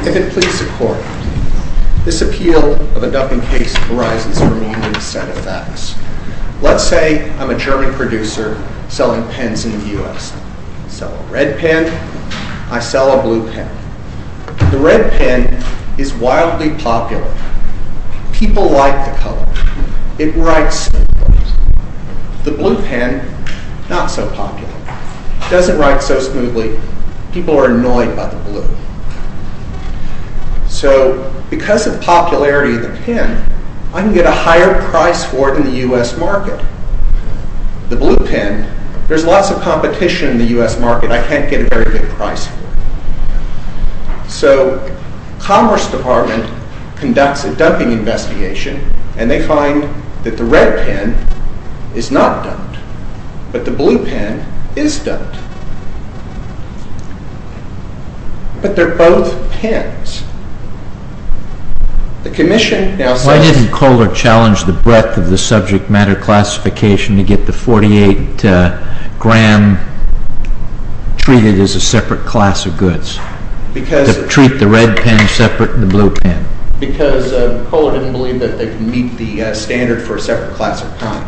If it please the Court, this appeal of a ducking case arises from a set of facts. Let's say I'm a German producer selling pens in the U.S. I sell a red pen, I sell a blue pen. The red pen is wildly popular. People like the color. It writes smoothly. The blue pen, not so popular. It doesn't write so smoothly. People are annoyed by the blue. So, because of popularity of the pen, I can get a higher price for it in the U.S. market. The blue pen, there's lots of competition in the U.S. market. I can't get a very good price for it. So, Commerce Department conducts a dumping investigation, and they find that the red pen is not dumped. But the blue pen is dumped. But they're both pens. Why didn't Kohler challenge the breadth of the subject matter classification to get the 48 gram treated as a separate class of goods? Treat the red pen separate from the blue pen. Because Kohler didn't believe that they could meet the standard for a separate class of common.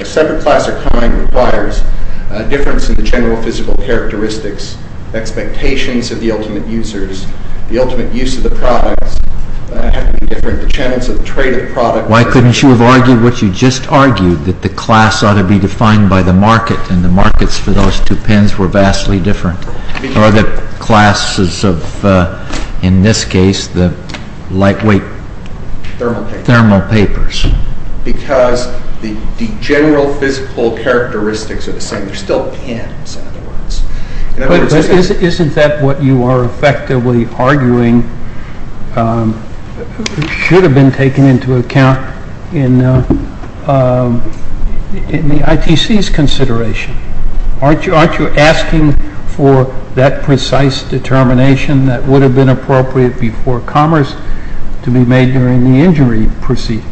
A separate class of common requires a difference in the general physical characteristics. Expectations of the ultimate users. The ultimate use of the products have to be different. The channels of trade of the product. Why couldn't you have argued what you just argued? That the class ought to be defined by the market, and the markets for those two pens were vastly different. Or the classes of, in this case, the lightweight thermal papers. Because the general physical characteristics are the same. They're still pens, in other words. Isn't that what you are effectively arguing should have been taken into account in the ITC's consideration? Aren't you asking for that precise determination that would have been appropriate before commerce to be made during the injury proceeding?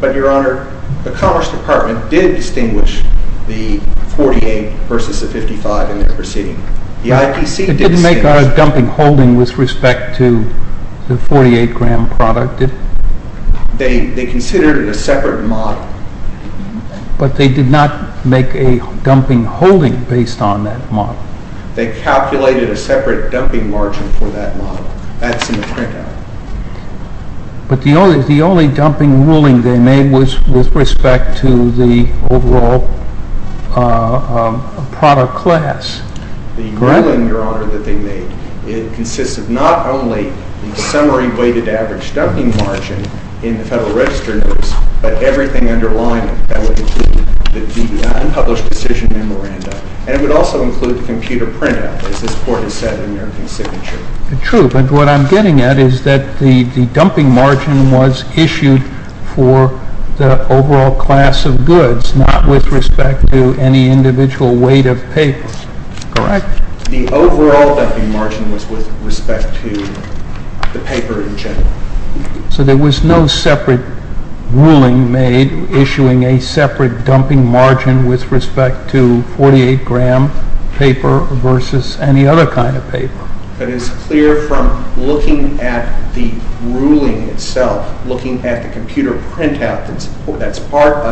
But, Your Honor, the Commerce Department did distinguish the 48 versus the 55 in their proceeding. It didn't make a dumping holding with respect to the 48 gram product, did it? They considered it a separate model. But they did not make a dumping holding based on that model. They calculated a separate dumping margin for that model. That's in the printout. But the only dumping ruling they made was with respect to the overall product class. The ruling, Your Honor, that they made, it consists of not only the summary weighted average dumping margin in the Federal Register Notice, but everything underlying it. That would include the unpublished decision memorandum. And it would also include the computer printout, as this Court has said in their consignature. True. But what I'm getting at is that the dumping margin was issued for the overall class of goods, not with respect to any individual weight of paper. Correct? The overall dumping margin was with respect to the paper in general. So there was no separate ruling made issuing a separate dumping margin with respect to 48 gram paper versus any other kind of paper. But it's clear from looking at the ruling itself, looking at the computer printout, that's part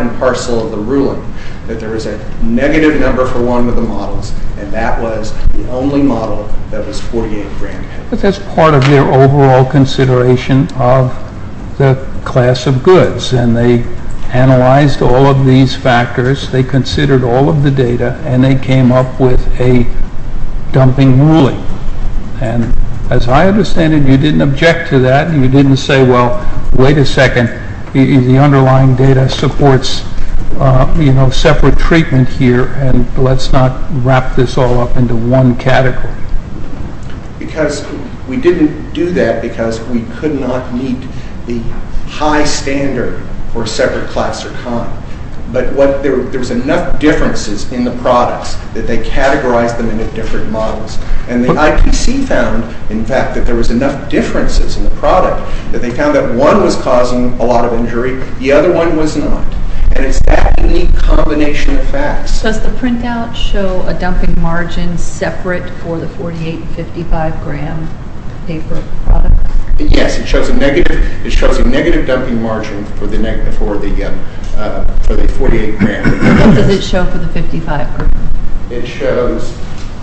and parcel of the ruling, that there is a negative number for one of the models, and that was the only model that was 48 gram. But that's part of their overall consideration of the class of goods. And they analyzed all of these factors. They considered all of the data, and they came up with a dumping ruling. And as I understand it, you didn't object to that. You didn't say, well, wait a second, the underlying data supports, you know, separate treatment here, and let's not wrap this all up into one category. Because we didn't do that because we could not meet the high standard for a separate class or kind. But there was enough differences in the products that they categorized them into different models. And the IPC found, in fact, that there was enough differences in the product that they found that one was causing a lot of injury, the other one was not. And it's that unique combination of facts. Does the printout show a dumping margin separate for the 48 and 55 gram paper product? Yes, it shows a negative dumping margin for the 48 gram. What does it show for the 55 gram? It shows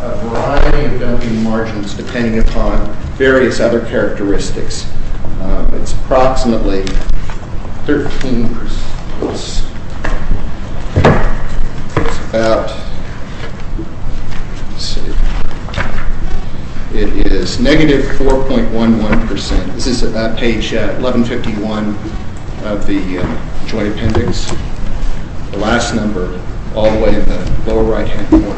a variety of dumping margins depending upon various other characteristics. It's approximately 13%. It's about, let's see, it is negative 4.11%. This is at page 1151 of the joint appendix, the last number all the way in the lower right-hand corner.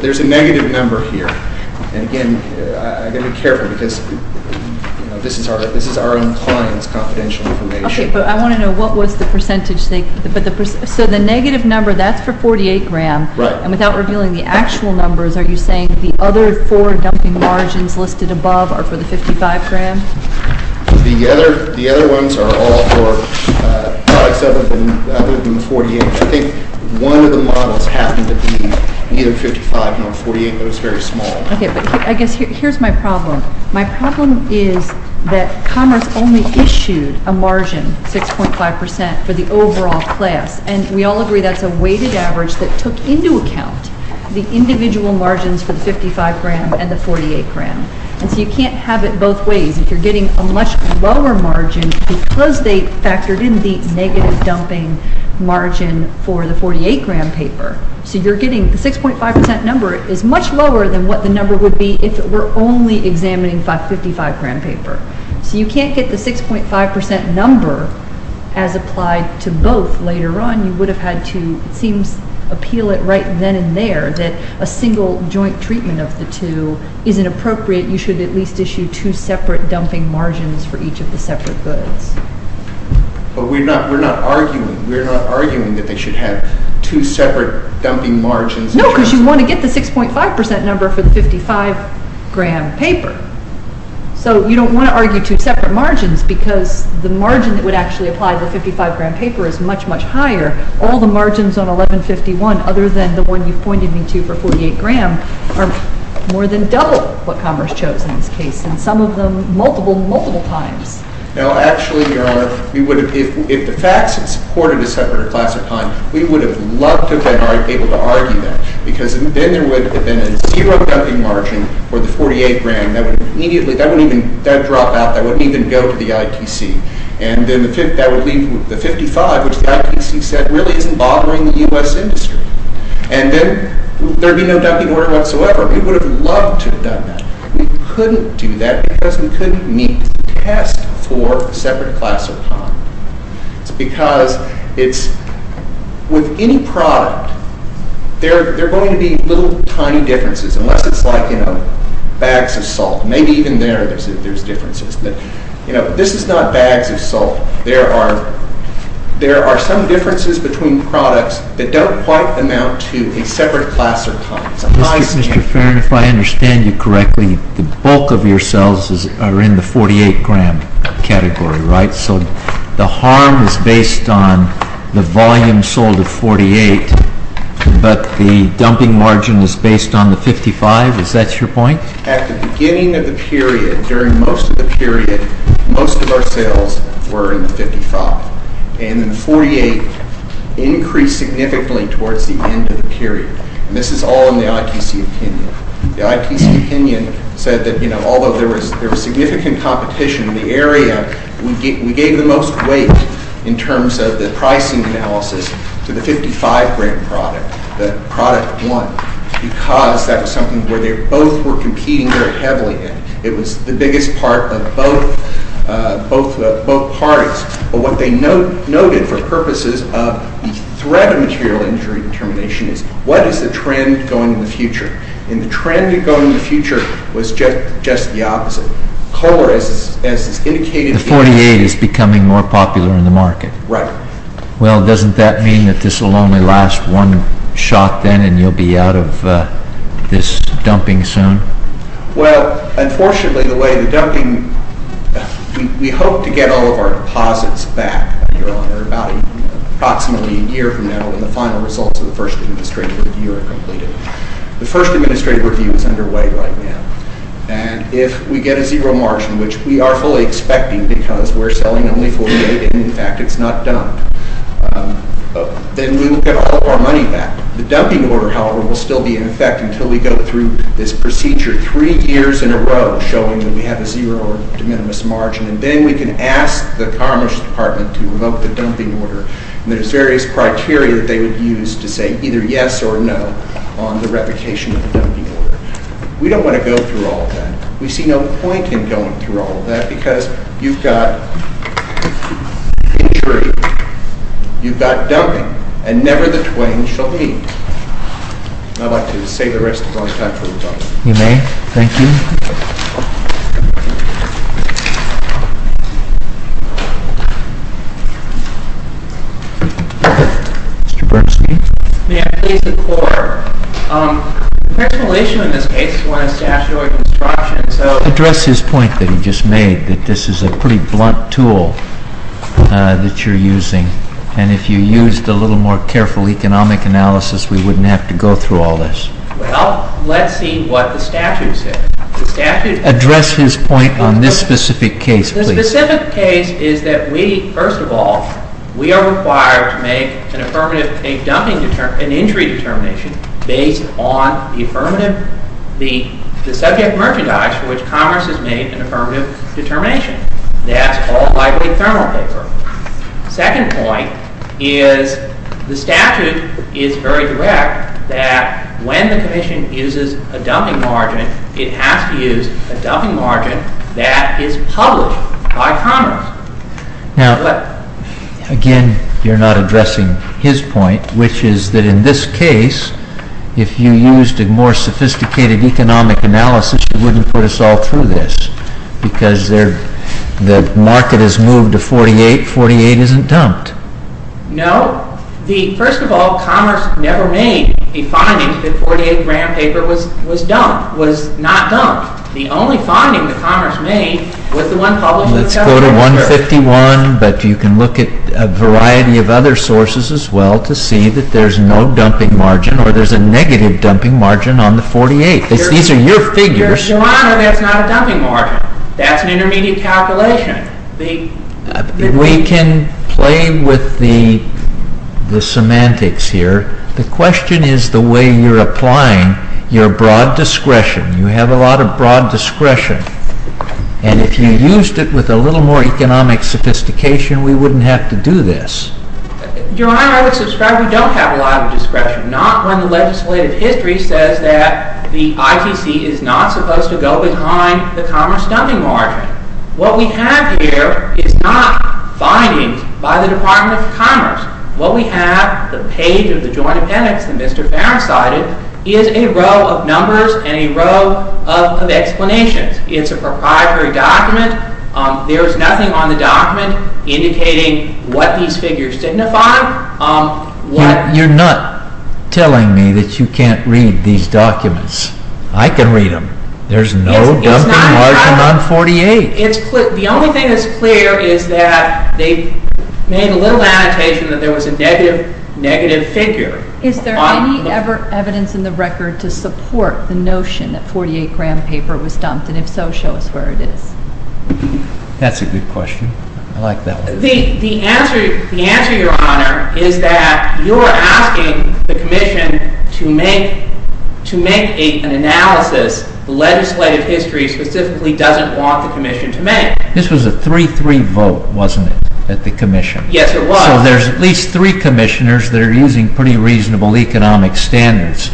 There's a negative number here. And, again, I've got to be careful because this is our own client's confidential information. Okay, but I want to know what was the percentage. So the negative number, that's for 48 gram. Right. And without revealing the actual numbers, are you saying the other four dumping margins listed above are for the 55 gram? The other ones are all for products other than the 48. I think one of the models happened to be either 55 or 48, but it was very small. Okay, but I guess here's my problem. My problem is that Commerce only issued a margin, 6.5%, for the overall class. And we all agree that's a weighted average that took into account the individual margins for the 55 gram and the 48 gram. And so you can't have it both ways. If you're getting a much lower margin because they factored in the negative dumping margin for the 48 gram paper. So you're getting the 6.5% number is much lower than what the number would be if it were only examining 555 gram paper. So you can't get the 6.5% number as applied to both later on. You would have had to, it seems, appeal it right then and there that a single joint treatment of the two isn't appropriate. You should at least issue two separate dumping margins for each of the separate goods. But we're not arguing that they should have two separate dumping margins. No, because you want to get the 6.5% number for the 55 gram paper. So you don't want to argue two separate margins because the margin that would actually apply to the 55 gram paper is much, much higher. All the margins on 1151 other than the one you pointed me to for 48 gram are more than double what Congress chose in this case. And some of them multiple, multiple times. No, actually, Your Honor, if the facts had supported a separate class of time, we would have loved to have been able to argue that. Because then there would have been a zero dumping margin for the 48 gram. That would immediately, that wouldn't even, that would drop out. That wouldn't even go to the ITC. And then that would leave the 55, which the ITC said really isn't bothering the U.S. industry. And then there would be no dumping order whatsoever. We would have loved to have done that. We couldn't do that because we couldn't meet the test for a separate class of time. It's because it's, with any product, there are going to be little tiny differences. Unless it's like, you know, bags of salt. Maybe even there there's differences. You know, this is not bags of salt. There are, there are some differences between products that don't quite amount to a separate class of time. Mr. Farron, if I understand you correctly, the bulk of your cells are in the 48 gram category, right? So the harm is based on the volume sold of 48, but the dumping margin is based on the 55? Is that your point? At the beginning of the period, during most of the period, most of our sales were in the 55. And the 48 increased significantly towards the end of the period. And this is all in the ITC opinion. The ITC opinion said that, you know, although there was significant competition in the area, we gave the most weight in terms of the pricing analysis to the 55 gram product. The product won because that was something where they both were competing very heavily. And it was the biggest part of both parties. But what they noted for purposes of the threat of material injury determination is, what is the trend going in the future? And the trend going in the future was just the opposite. Kohler, as it's indicated... The 48 is becoming more popular in the market. Right. Well, doesn't that mean that this will only last one shot then and you'll be out of this dumping soon? Well, unfortunately, the way the dumping... We hope to get all of our deposits back, Your Honor, about approximately a year from now when the final results of the first administrative review are completed. The first administrative review is underway right now. And if we get a zero margin, which we are fully expecting because we're selling only 48, and, in fact, it's not dumped, then we'll get all of our money back. The dumping order, however, will still be in effect until we go through this procedure three years in a row showing that we have a zero or de minimis margin. And then we can ask the Commerce Department to revoke the dumping order. And there's various criteria that they would use to say either yes or no on the replication of the dumping order. We don't want to go through all of that. We see no point in going through all of that because you've got injury, you've got dumping, and never the twain shall meet. I'd like to save the rest of our time for the public. You may. Thank you. Mr. Bernstein? May I please declare? The principal issue in this case is one of statutory construction. Address his point that he just made, that this is a pretty blunt tool that you're using. And if you used a little more careful economic analysis, we wouldn't have to go through all this. Well, let's see what the statute says. Address his point on this specific case, please. The specific case is that we, first of all, we are required to make an affirmative, a dumping, an injury determination based on the affirmative, the subject merchandise for which Congress has made an affirmative determination. That's called lightweight thermal paper. Second point is the statute is very direct that when the commission uses a dumping margin, it has to use a dumping margin that is published by Congress. Now, again, you're not addressing his point, which is that in this case, if you used a more sophisticated economic analysis, you wouldn't put us all through this because the market has moved to 48, 48 isn't dumped. No. First of all, Congress never made the finding that 48 gram paper was dumped, was not dumped. The only finding that Congress made was the one published in the Federal Reserve. Let's go to 151, but you can look at a variety of other sources as well to see that there's no dumping margin or there's a negative dumping margin on the 48. These are your figures. Your Honor, that's not a dumping margin. That's an intermediate calculation. We can play with the semantics here. The question is the way you're applying your broad discretion. You have a lot of broad discretion, and if you used it with a little more economic sophistication, we wouldn't have to do this. Your Honor, I would subscribe we don't have a lot of discretion, not when the legislative history says that the ITC is not supposed to go behind the commerce dumping margin. What we have here is not findings by the Department of Commerce. What we have, the page of the joint appendix that Mr. Farron cited, is a row of numbers and a row of explanations. It's a proprietary document. There is nothing on the document indicating what these figures signify. You're not telling me that you can't read these documents. I can read them. There's no dumping margin on 48. The only thing that's clear is that they made a little annotation that there was a negative figure. Is there any evidence in the record to support the notion that 48-gram paper was dumped, and if so, show us where it is. That's a good question. I like that one. The answer, Your Honor, is that you're asking the commission to make an analysis the legislative history specifically doesn't want the commission to make. This was a 3-3 vote, wasn't it, at the commission? Yes, it was. So there's at least three commissioners that are using pretty reasonable economic standards.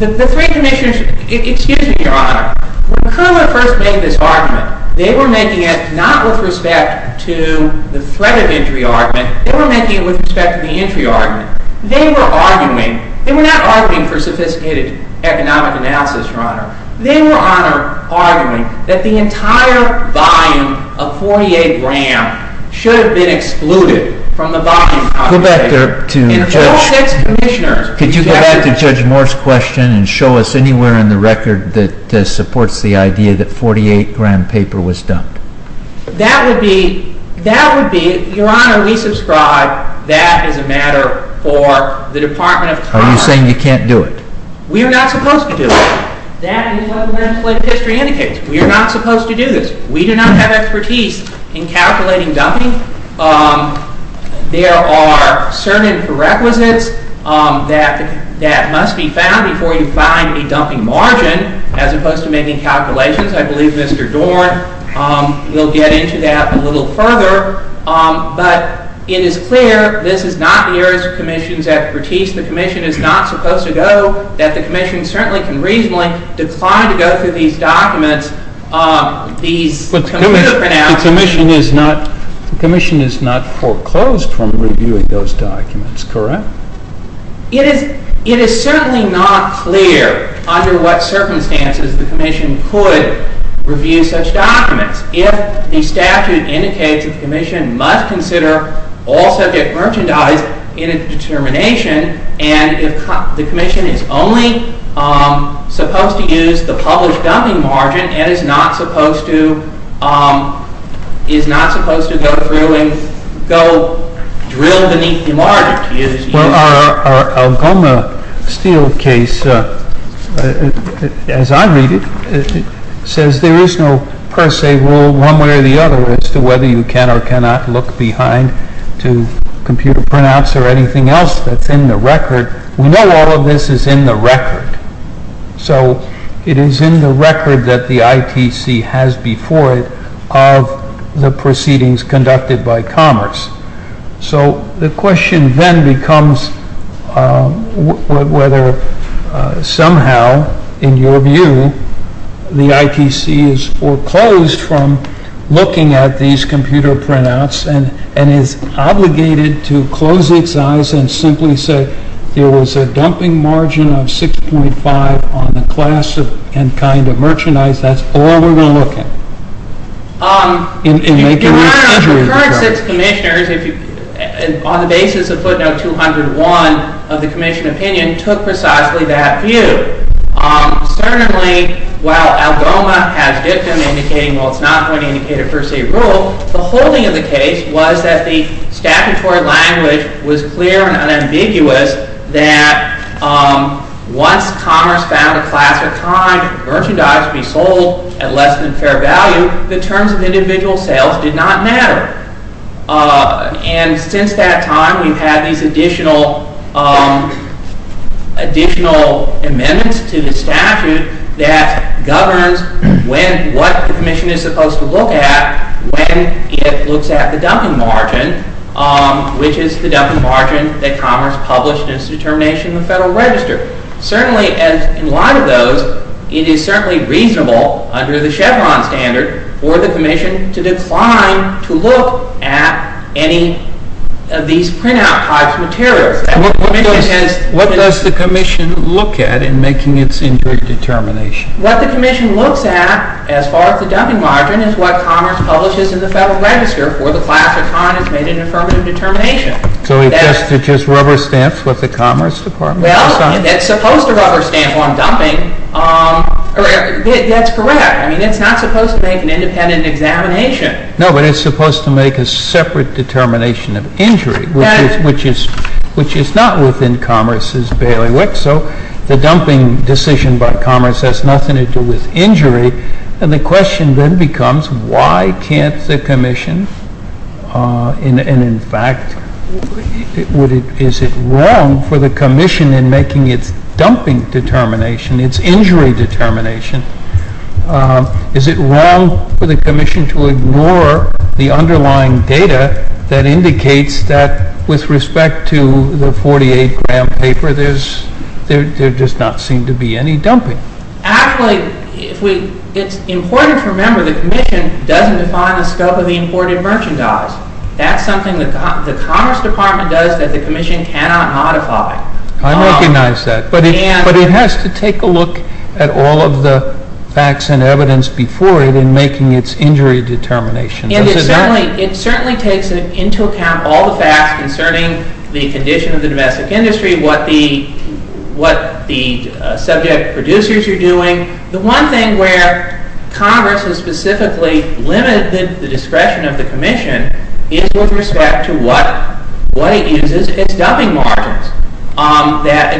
The three commissioners, excuse me, Your Honor. When Curler first made this argument, they were making it not with respect to the threat of injury argument. They were making it with respect to the entry argument. They were arguing. They were not arguing for sophisticated economic analysis, Your Honor. They were arguing that the entire volume of 48-gram should have been excluded from the volume. Go back to Judge Moore's question and show us anywhere in the record that supports the idea that 48-gram paper was dumped. That would be, Your Honor, we subscribe that as a matter for the Department of Commerce. Are you saying you can't do it? We are not supposed to do it. That is what the legislative history indicates. We are not supposed to do this. We do not have expertise in calculating dumping. There are certain prerequisites that must be found before you find a dumping margin, as opposed to making calculations. I believe Mr. Dorn will get into that a little further. But it is clear this is not the areas of commissions expertise the commission is not supposed to go, that the commission certainly can reasonably decline to go through these documents. But the commission is not foreclosed from reviewing those documents, correct? It is certainly not clear under what circumstances the commission could review such documents. If the statute indicates that the commission must consider all subject merchandise in a determination and the commission is only supposed to use the published dumping margin and is not supposed to go through and go drill beneath the margin. Our Algoma Steel case, as I read it, says there is no per se rule one way or the other as to whether you can or cannot look behind to computer printouts or anything else that is in the record. We know all of this is in the record. So it is in the record that the ITC has before it of the proceedings conducted by Commerce. So the question then becomes whether somehow, in your view, the ITC is foreclosed from looking at these computer printouts and is obligated to close its eyes and simply say there was a dumping margin of 6.5 on the class and kind of merchandise. That is all we are going to look at. The current six commissioners on the basis of footnote 201 of the commission opinion took precisely that view. Certainly, while Algoma has dictum indicating it is not going to indicate a per se rule, the holding of the case was that the statutory language was clear and unambiguous that once Commerce found a class or kind of merchandise to be sold at less than fair value, the terms of individual sales did not matter. And since that time, we have had these additional amendments to the statute that governs what the commission is supposed to look at when it looks at the dumping margin, which is the dumping margin that Commerce published in its determination in the Federal Register. Certainly, in light of those, it is certainly reasonable under the Chevron standard for the commission to decline to look at any of these printout types of materials. What does the commission look at in making its indirect determination? What the commission looks at as far as the dumping margin is what Commerce publishes in the Federal Register for the class or kind that has made an affirmative determination. So it is just rubber stamps with the Commerce Department? Well, it is supposed to rubber stamp on dumping. That is correct. I mean, it is not supposed to make an independent examination. No, but it is supposed to make a separate determination of injury, which is not within Commerce's bailiwick. So the dumping decision by Commerce has nothing to do with injury. And the question then becomes, why can't the commission, and in fact, is it wrong for the commission in making its dumping determination, its injury determination, is it wrong for the commission to ignore the underlying data that indicates that with respect to the 48-gram paper, there does not seem to be any dumping? Actually, it is important to remember the commission does not define the scope of the imported merchandise. That is something the Commerce Department does that the commission cannot modify. I recognize that. But it has to take a look at all of the facts and evidence before it in making its injury determination. It certainly takes into account all the facts concerning the condition of the domestic industry, what the subject producers are doing. The one thing where Congress has specifically limited the discretion of the commission is with respect to what it uses as dumping margins.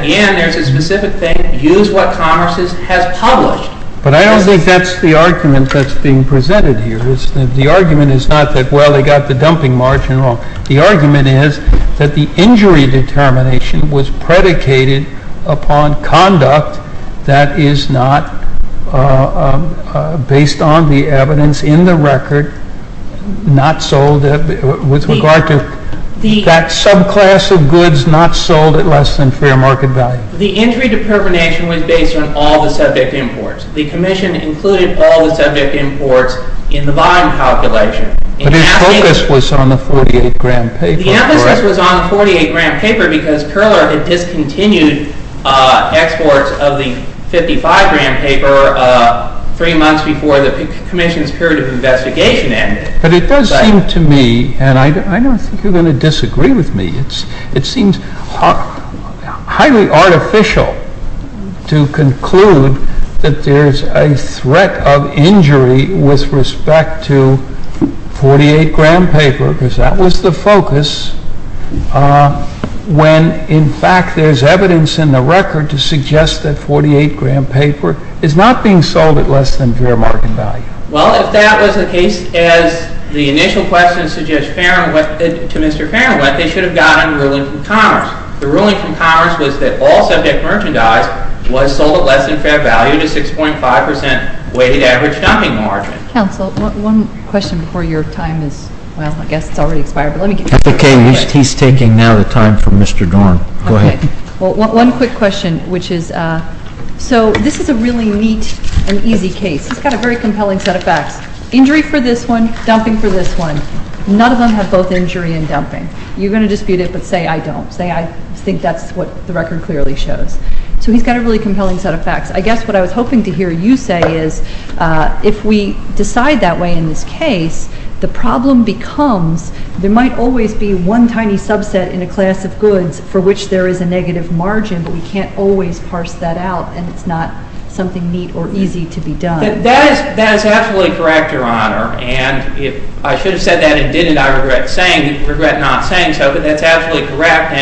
Again, there is a specific thing, use what Commerce has published. But I don't think that is the argument that is being presented here. The argument is not that, well, they got the dumping margin wrong. The argument is that the injury determination was predicated upon conduct that is not based on the evidence in the record, not sold with regard to that subclass of goods not sold at less than fair market value. The injury determination was based on all the subject imports. The commission included all the subject imports in the bottom calculation. But its focus was on the 48-gram paper. Because Perler had discontinued exports of the 55-gram paper three months before the commission's period of investigation ended. But it does seem to me, and I don't think you're going to disagree with me, it seems highly artificial to conclude that there is a threat of injury with respect to 48-gram paper because that was the focus when, in fact, there is evidence in the record to suggest that 48-gram paper is not being sold at less than fair market value. Well, if that was the case, as the initial question to Mr. Farron went, they should have gotten a ruling from Commerce. The ruling from Commerce was that all subject merchandise was sold at less than fair value to 6.5% weighted average dumping margin. Counsel, one question before your time is, well, I guess it's already expired. Okay. He's taking now the time from Mr. Dorn. Go ahead. Well, one quick question, which is, so this is a really neat and easy case. It's got a very compelling set of facts. Injury for this one, dumping for this one. None of them have both injury and dumping. You're going to dispute it, but say I don't. Say I think that's what the record clearly shows. So he's got a really compelling set of facts. I guess what I was hoping to hear you say is if we decide that way in this case, the problem becomes there might always be one tiny subset in a class of goods for which there is a negative margin, but we can't always parse that out, and it's not something neat or easy to be done. That is absolutely correct, Your Honor, and if I should have said that and didn't, I regret not saying so, but that's absolutely correct.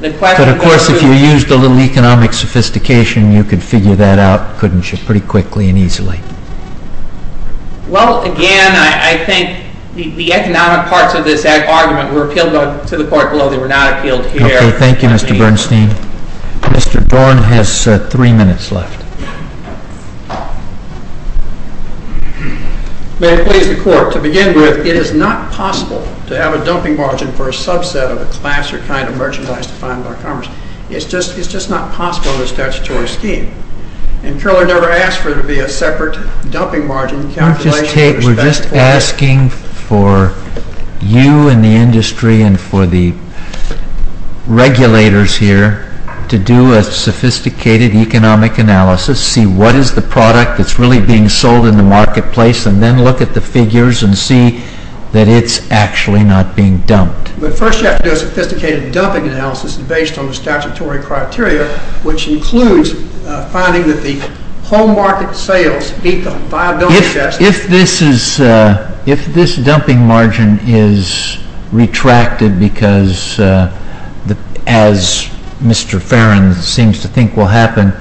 But, of course, if you used a little economic sophistication, you could figure that out, couldn't you, pretty quickly and easily? Well, again, I think the economic parts of this argument were appealed to the court below. They were not appealed here. Okay. Thank you, Mr. Bernstein. Mr. Dorn has three minutes left. May it please the Court, to begin with, it is not possible to have a dumping margin for a subset of a class or kind of merchandise defined by commerce. It's just not possible under the statutory scheme, and Curler never asked for it to be a separate dumping margin calculation. We're just asking for you and the industry and for the regulators here to do a sophisticated economic analysis, see what is the product that's really being sold in the marketplace, and then look at the figures and see that it's actually not being dumped. But first you have to do a sophisticated dumping analysis based on the statutory criteria, which includes finding that the home market sales meet the viability test. If this dumping margin is retracted because, as Mr. Farron seems to think will happen,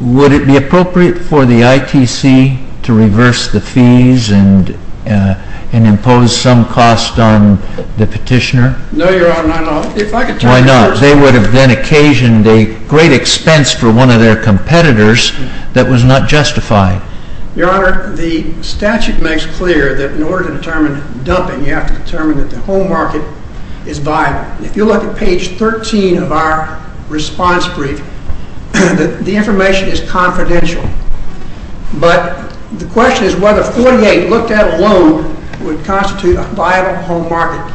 would it be appropriate for the ITC to reverse the fees and impose some cost on the petitioner? No, Your Honor, not at all. Why not? They would have then occasioned a great expense for one of their competitors that was not justified. Your Honor, the statute makes clear that in order to determine dumping, you have to determine that the home market is viable. If you look at page 13 of our response brief, the information is confidential. But the question is whether 48, looked at alone, would constitute a viable home market.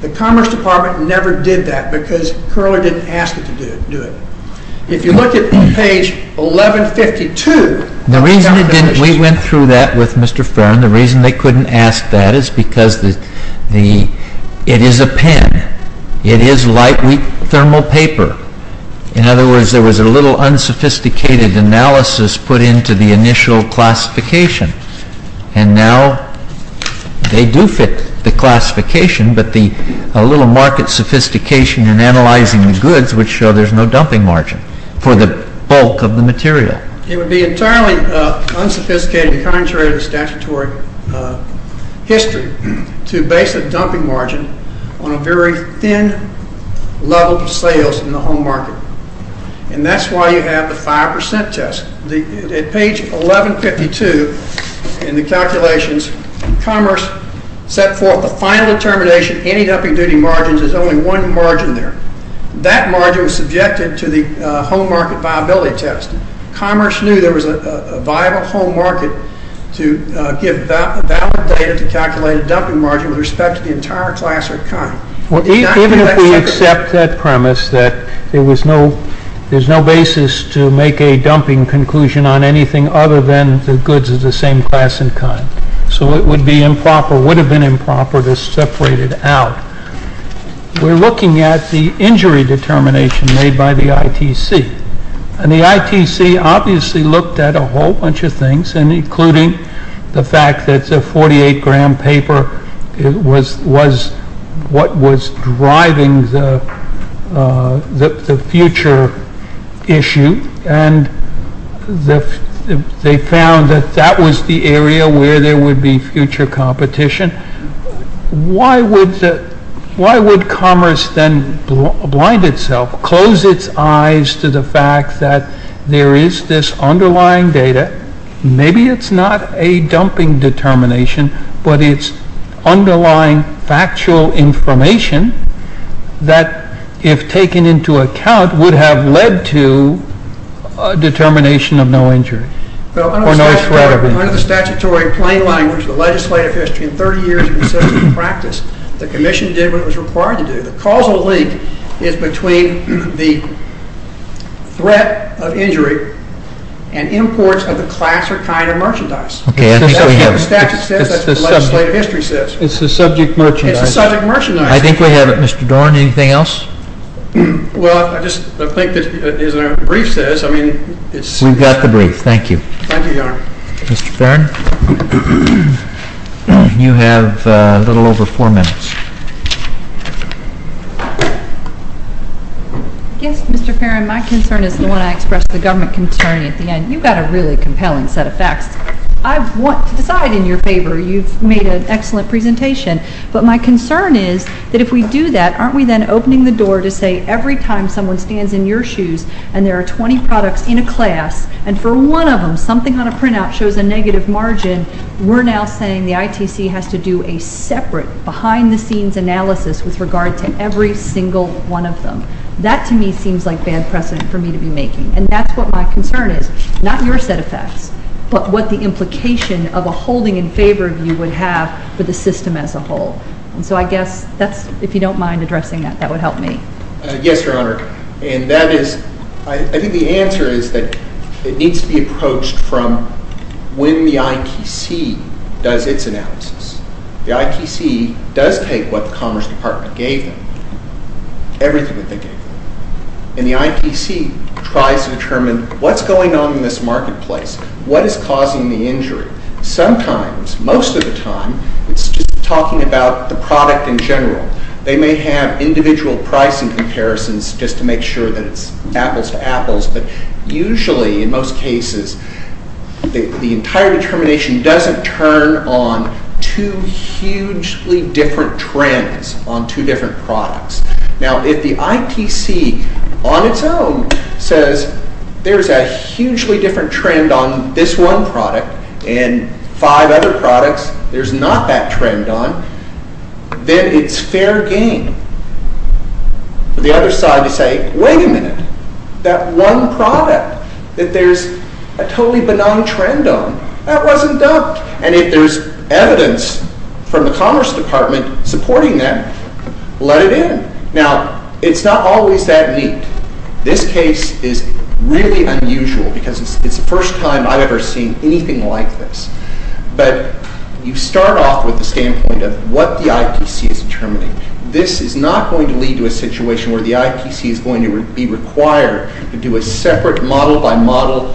The Commerce Department never did that because Curler didn't ask them to do it. If you look at page 1152. We went through that with Mr. Farron. The reason they couldn't ask that is because it is a pen. It is lightweight thermal paper. In other words, there was a little unsophisticated analysis put into the initial classification. And now they do fit the classification, but the little market sophistication in analyzing the goods would show there's no dumping margin for the bulk of the material. It would be entirely unsophisticated and contrary to statutory history to base a dumping margin on a very thin level of sales in the home market. And that's why you have the 5% test. At page 1152 in the calculations, Commerce set forth the final determination, any dumping duty margins, there's only one margin there. That margin was subjected to the home market viability test. Commerce knew there was a viable home market to give valid data to calculate a dumping margin with respect to the entire class or kind. Even if we accept that premise that there's no basis to make a dumping conclusion on anything other than the goods of the same class and kind. So it would be improper, would have been improper to separate it out. We're looking at the injury determination made by the ITC. And the ITC obviously looked at a whole bunch of things, including the fact that the 48-gram paper was what was driving the future issue. And they found that that was the area where there would be future competition. Why would Commerce then blind itself, close its eyes to the fact that there is this underlying data, maybe it's not a dumping determination, but it's underlying factual information that if taken into account would have led to a determination of no injury or no threat of injury. Under the statutory plain language of the legislative history, in 30 years of consistent practice, the Commission did what it was required to do. The causal link is between the threat of injury and imports of the class or kind of merchandise. That's what the statute says, that's what the legislative history says. It's the subject merchandise. It's the subject merchandise. I think we have it. Mr. Dorn, anything else? Well, I think that is what the brief says. We've got the brief. Thank you. Thank you, Your Honor. Mr. Farron, you have a little over four minutes. Yes, Mr. Farron, my concern is the one I expressed to the government attorney at the end. You've got a really compelling set of facts. I want to decide in your favor. You've made an excellent presentation. But my concern is that if we do that, aren't we then opening the door to say And for one of them, something on a printout shows a negative margin. We're now saying the ITC has to do a separate behind-the-scenes analysis with regard to every single one of them. That, to me, seems like bad precedent for me to be making. And that's what my concern is, not your set of facts, but what the implication of a holding in favor view would have for the system as a whole. And so I guess that's, if you don't mind addressing that, that would help me. Yes, Your Honor. I think the answer is that it needs to be approached from when the ITC does its analysis. The ITC does take what the Commerce Department gave them, everything that they gave them. And the ITC tries to determine what's going on in this marketplace. What is causing the injury? Sometimes, most of the time, it's just talking about the product in general. They may have individual pricing comparisons just to make sure that it's apples to apples. But usually, in most cases, the entire determination doesn't turn on two hugely different trends on two different products. Now, if the ITC, on its own, says there's a hugely different trend on this one product and five other products there's not that trend on, then it's fair game for the other side to say, wait a minute. That one product that there's a totally benign trend on, that wasn't dubbed. And if there's evidence from the Commerce Department supporting that, let it in. Now, it's not always that neat. This case is really unusual because it's the first time I've ever seen anything like this. But you start off with the standpoint of what the ITC is determining. This is not going to lead to a situation where the ITC is going to be required to do a separate model-by-model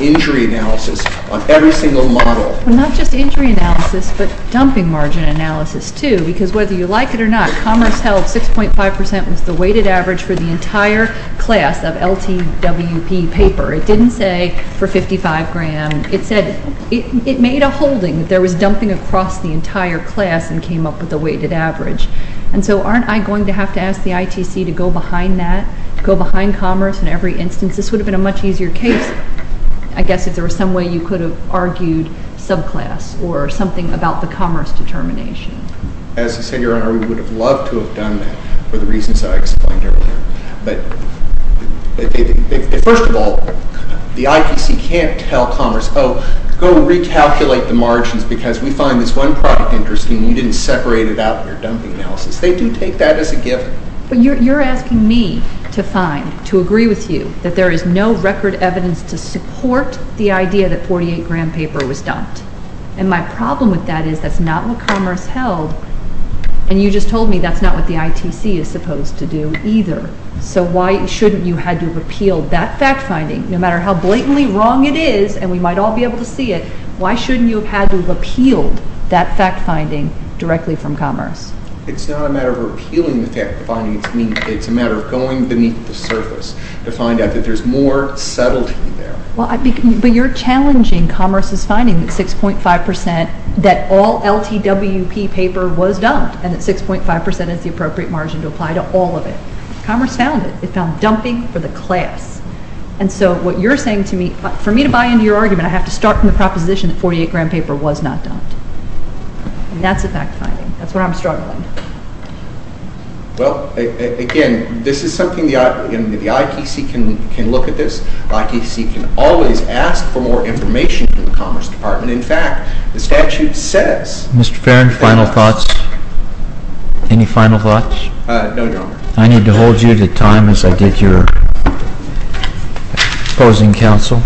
injury analysis on every single model. Well, not just injury analysis, but dumping margin analysis, too, because whether you like it or not, Commerce held 6.5 percent was the weighted average for the entire class of LTWP paper. It didn't say for 55 gram. It said it made a holding. There was dumping across the entire class and came up with a weighted average. And so aren't I going to have to ask the ITC to go behind that, go behind Commerce in every instance? This would have been a much easier case, I guess, if there was some way you could have argued subclass or something about the commerce determination. As you said, Your Honor, we would have loved to have done that for the reasons I explained earlier. But first of all, the ITC can't tell Commerce, oh, go recalculate the margins because we find this one product interesting and you didn't separate it out in your dumping analysis. They do take that as a given. But you're asking me to find, to agree with you that there is no record evidence to support the idea that 48-gram paper was dumped. And my problem with that is that's not what Commerce held. And you just told me that's not what the ITC is supposed to do either. So why shouldn't you have had to repeal that fact-finding, no matter how blatantly wrong it is, and we might all be able to see it, why shouldn't you have had to repeal that fact-finding directly from Commerce? It's not a matter of repealing the fact-finding. It's a matter of going beneath the surface to find out that there's more subtlety there. Well, but you're challenging Commerce's finding that 6.5 percent, that all LTWP paper was dumped, and that 6.5 percent is the appropriate margin to apply to all of it. Commerce found it. It found dumping for the class. And so what you're saying to me, for me to buy into your argument, I have to start from the proposition that 48-gram paper was not dumped. And that's a fact-finding. That's what I'm struggling with. Well, again, this is something the ITC can look at this. The ITC can always ask for more information from the Commerce Department. In fact, the statute says— Mr. Farron, final thoughts? Any final thoughts? No, Your Honor. I need to hold you to time as I did your opposing counsel.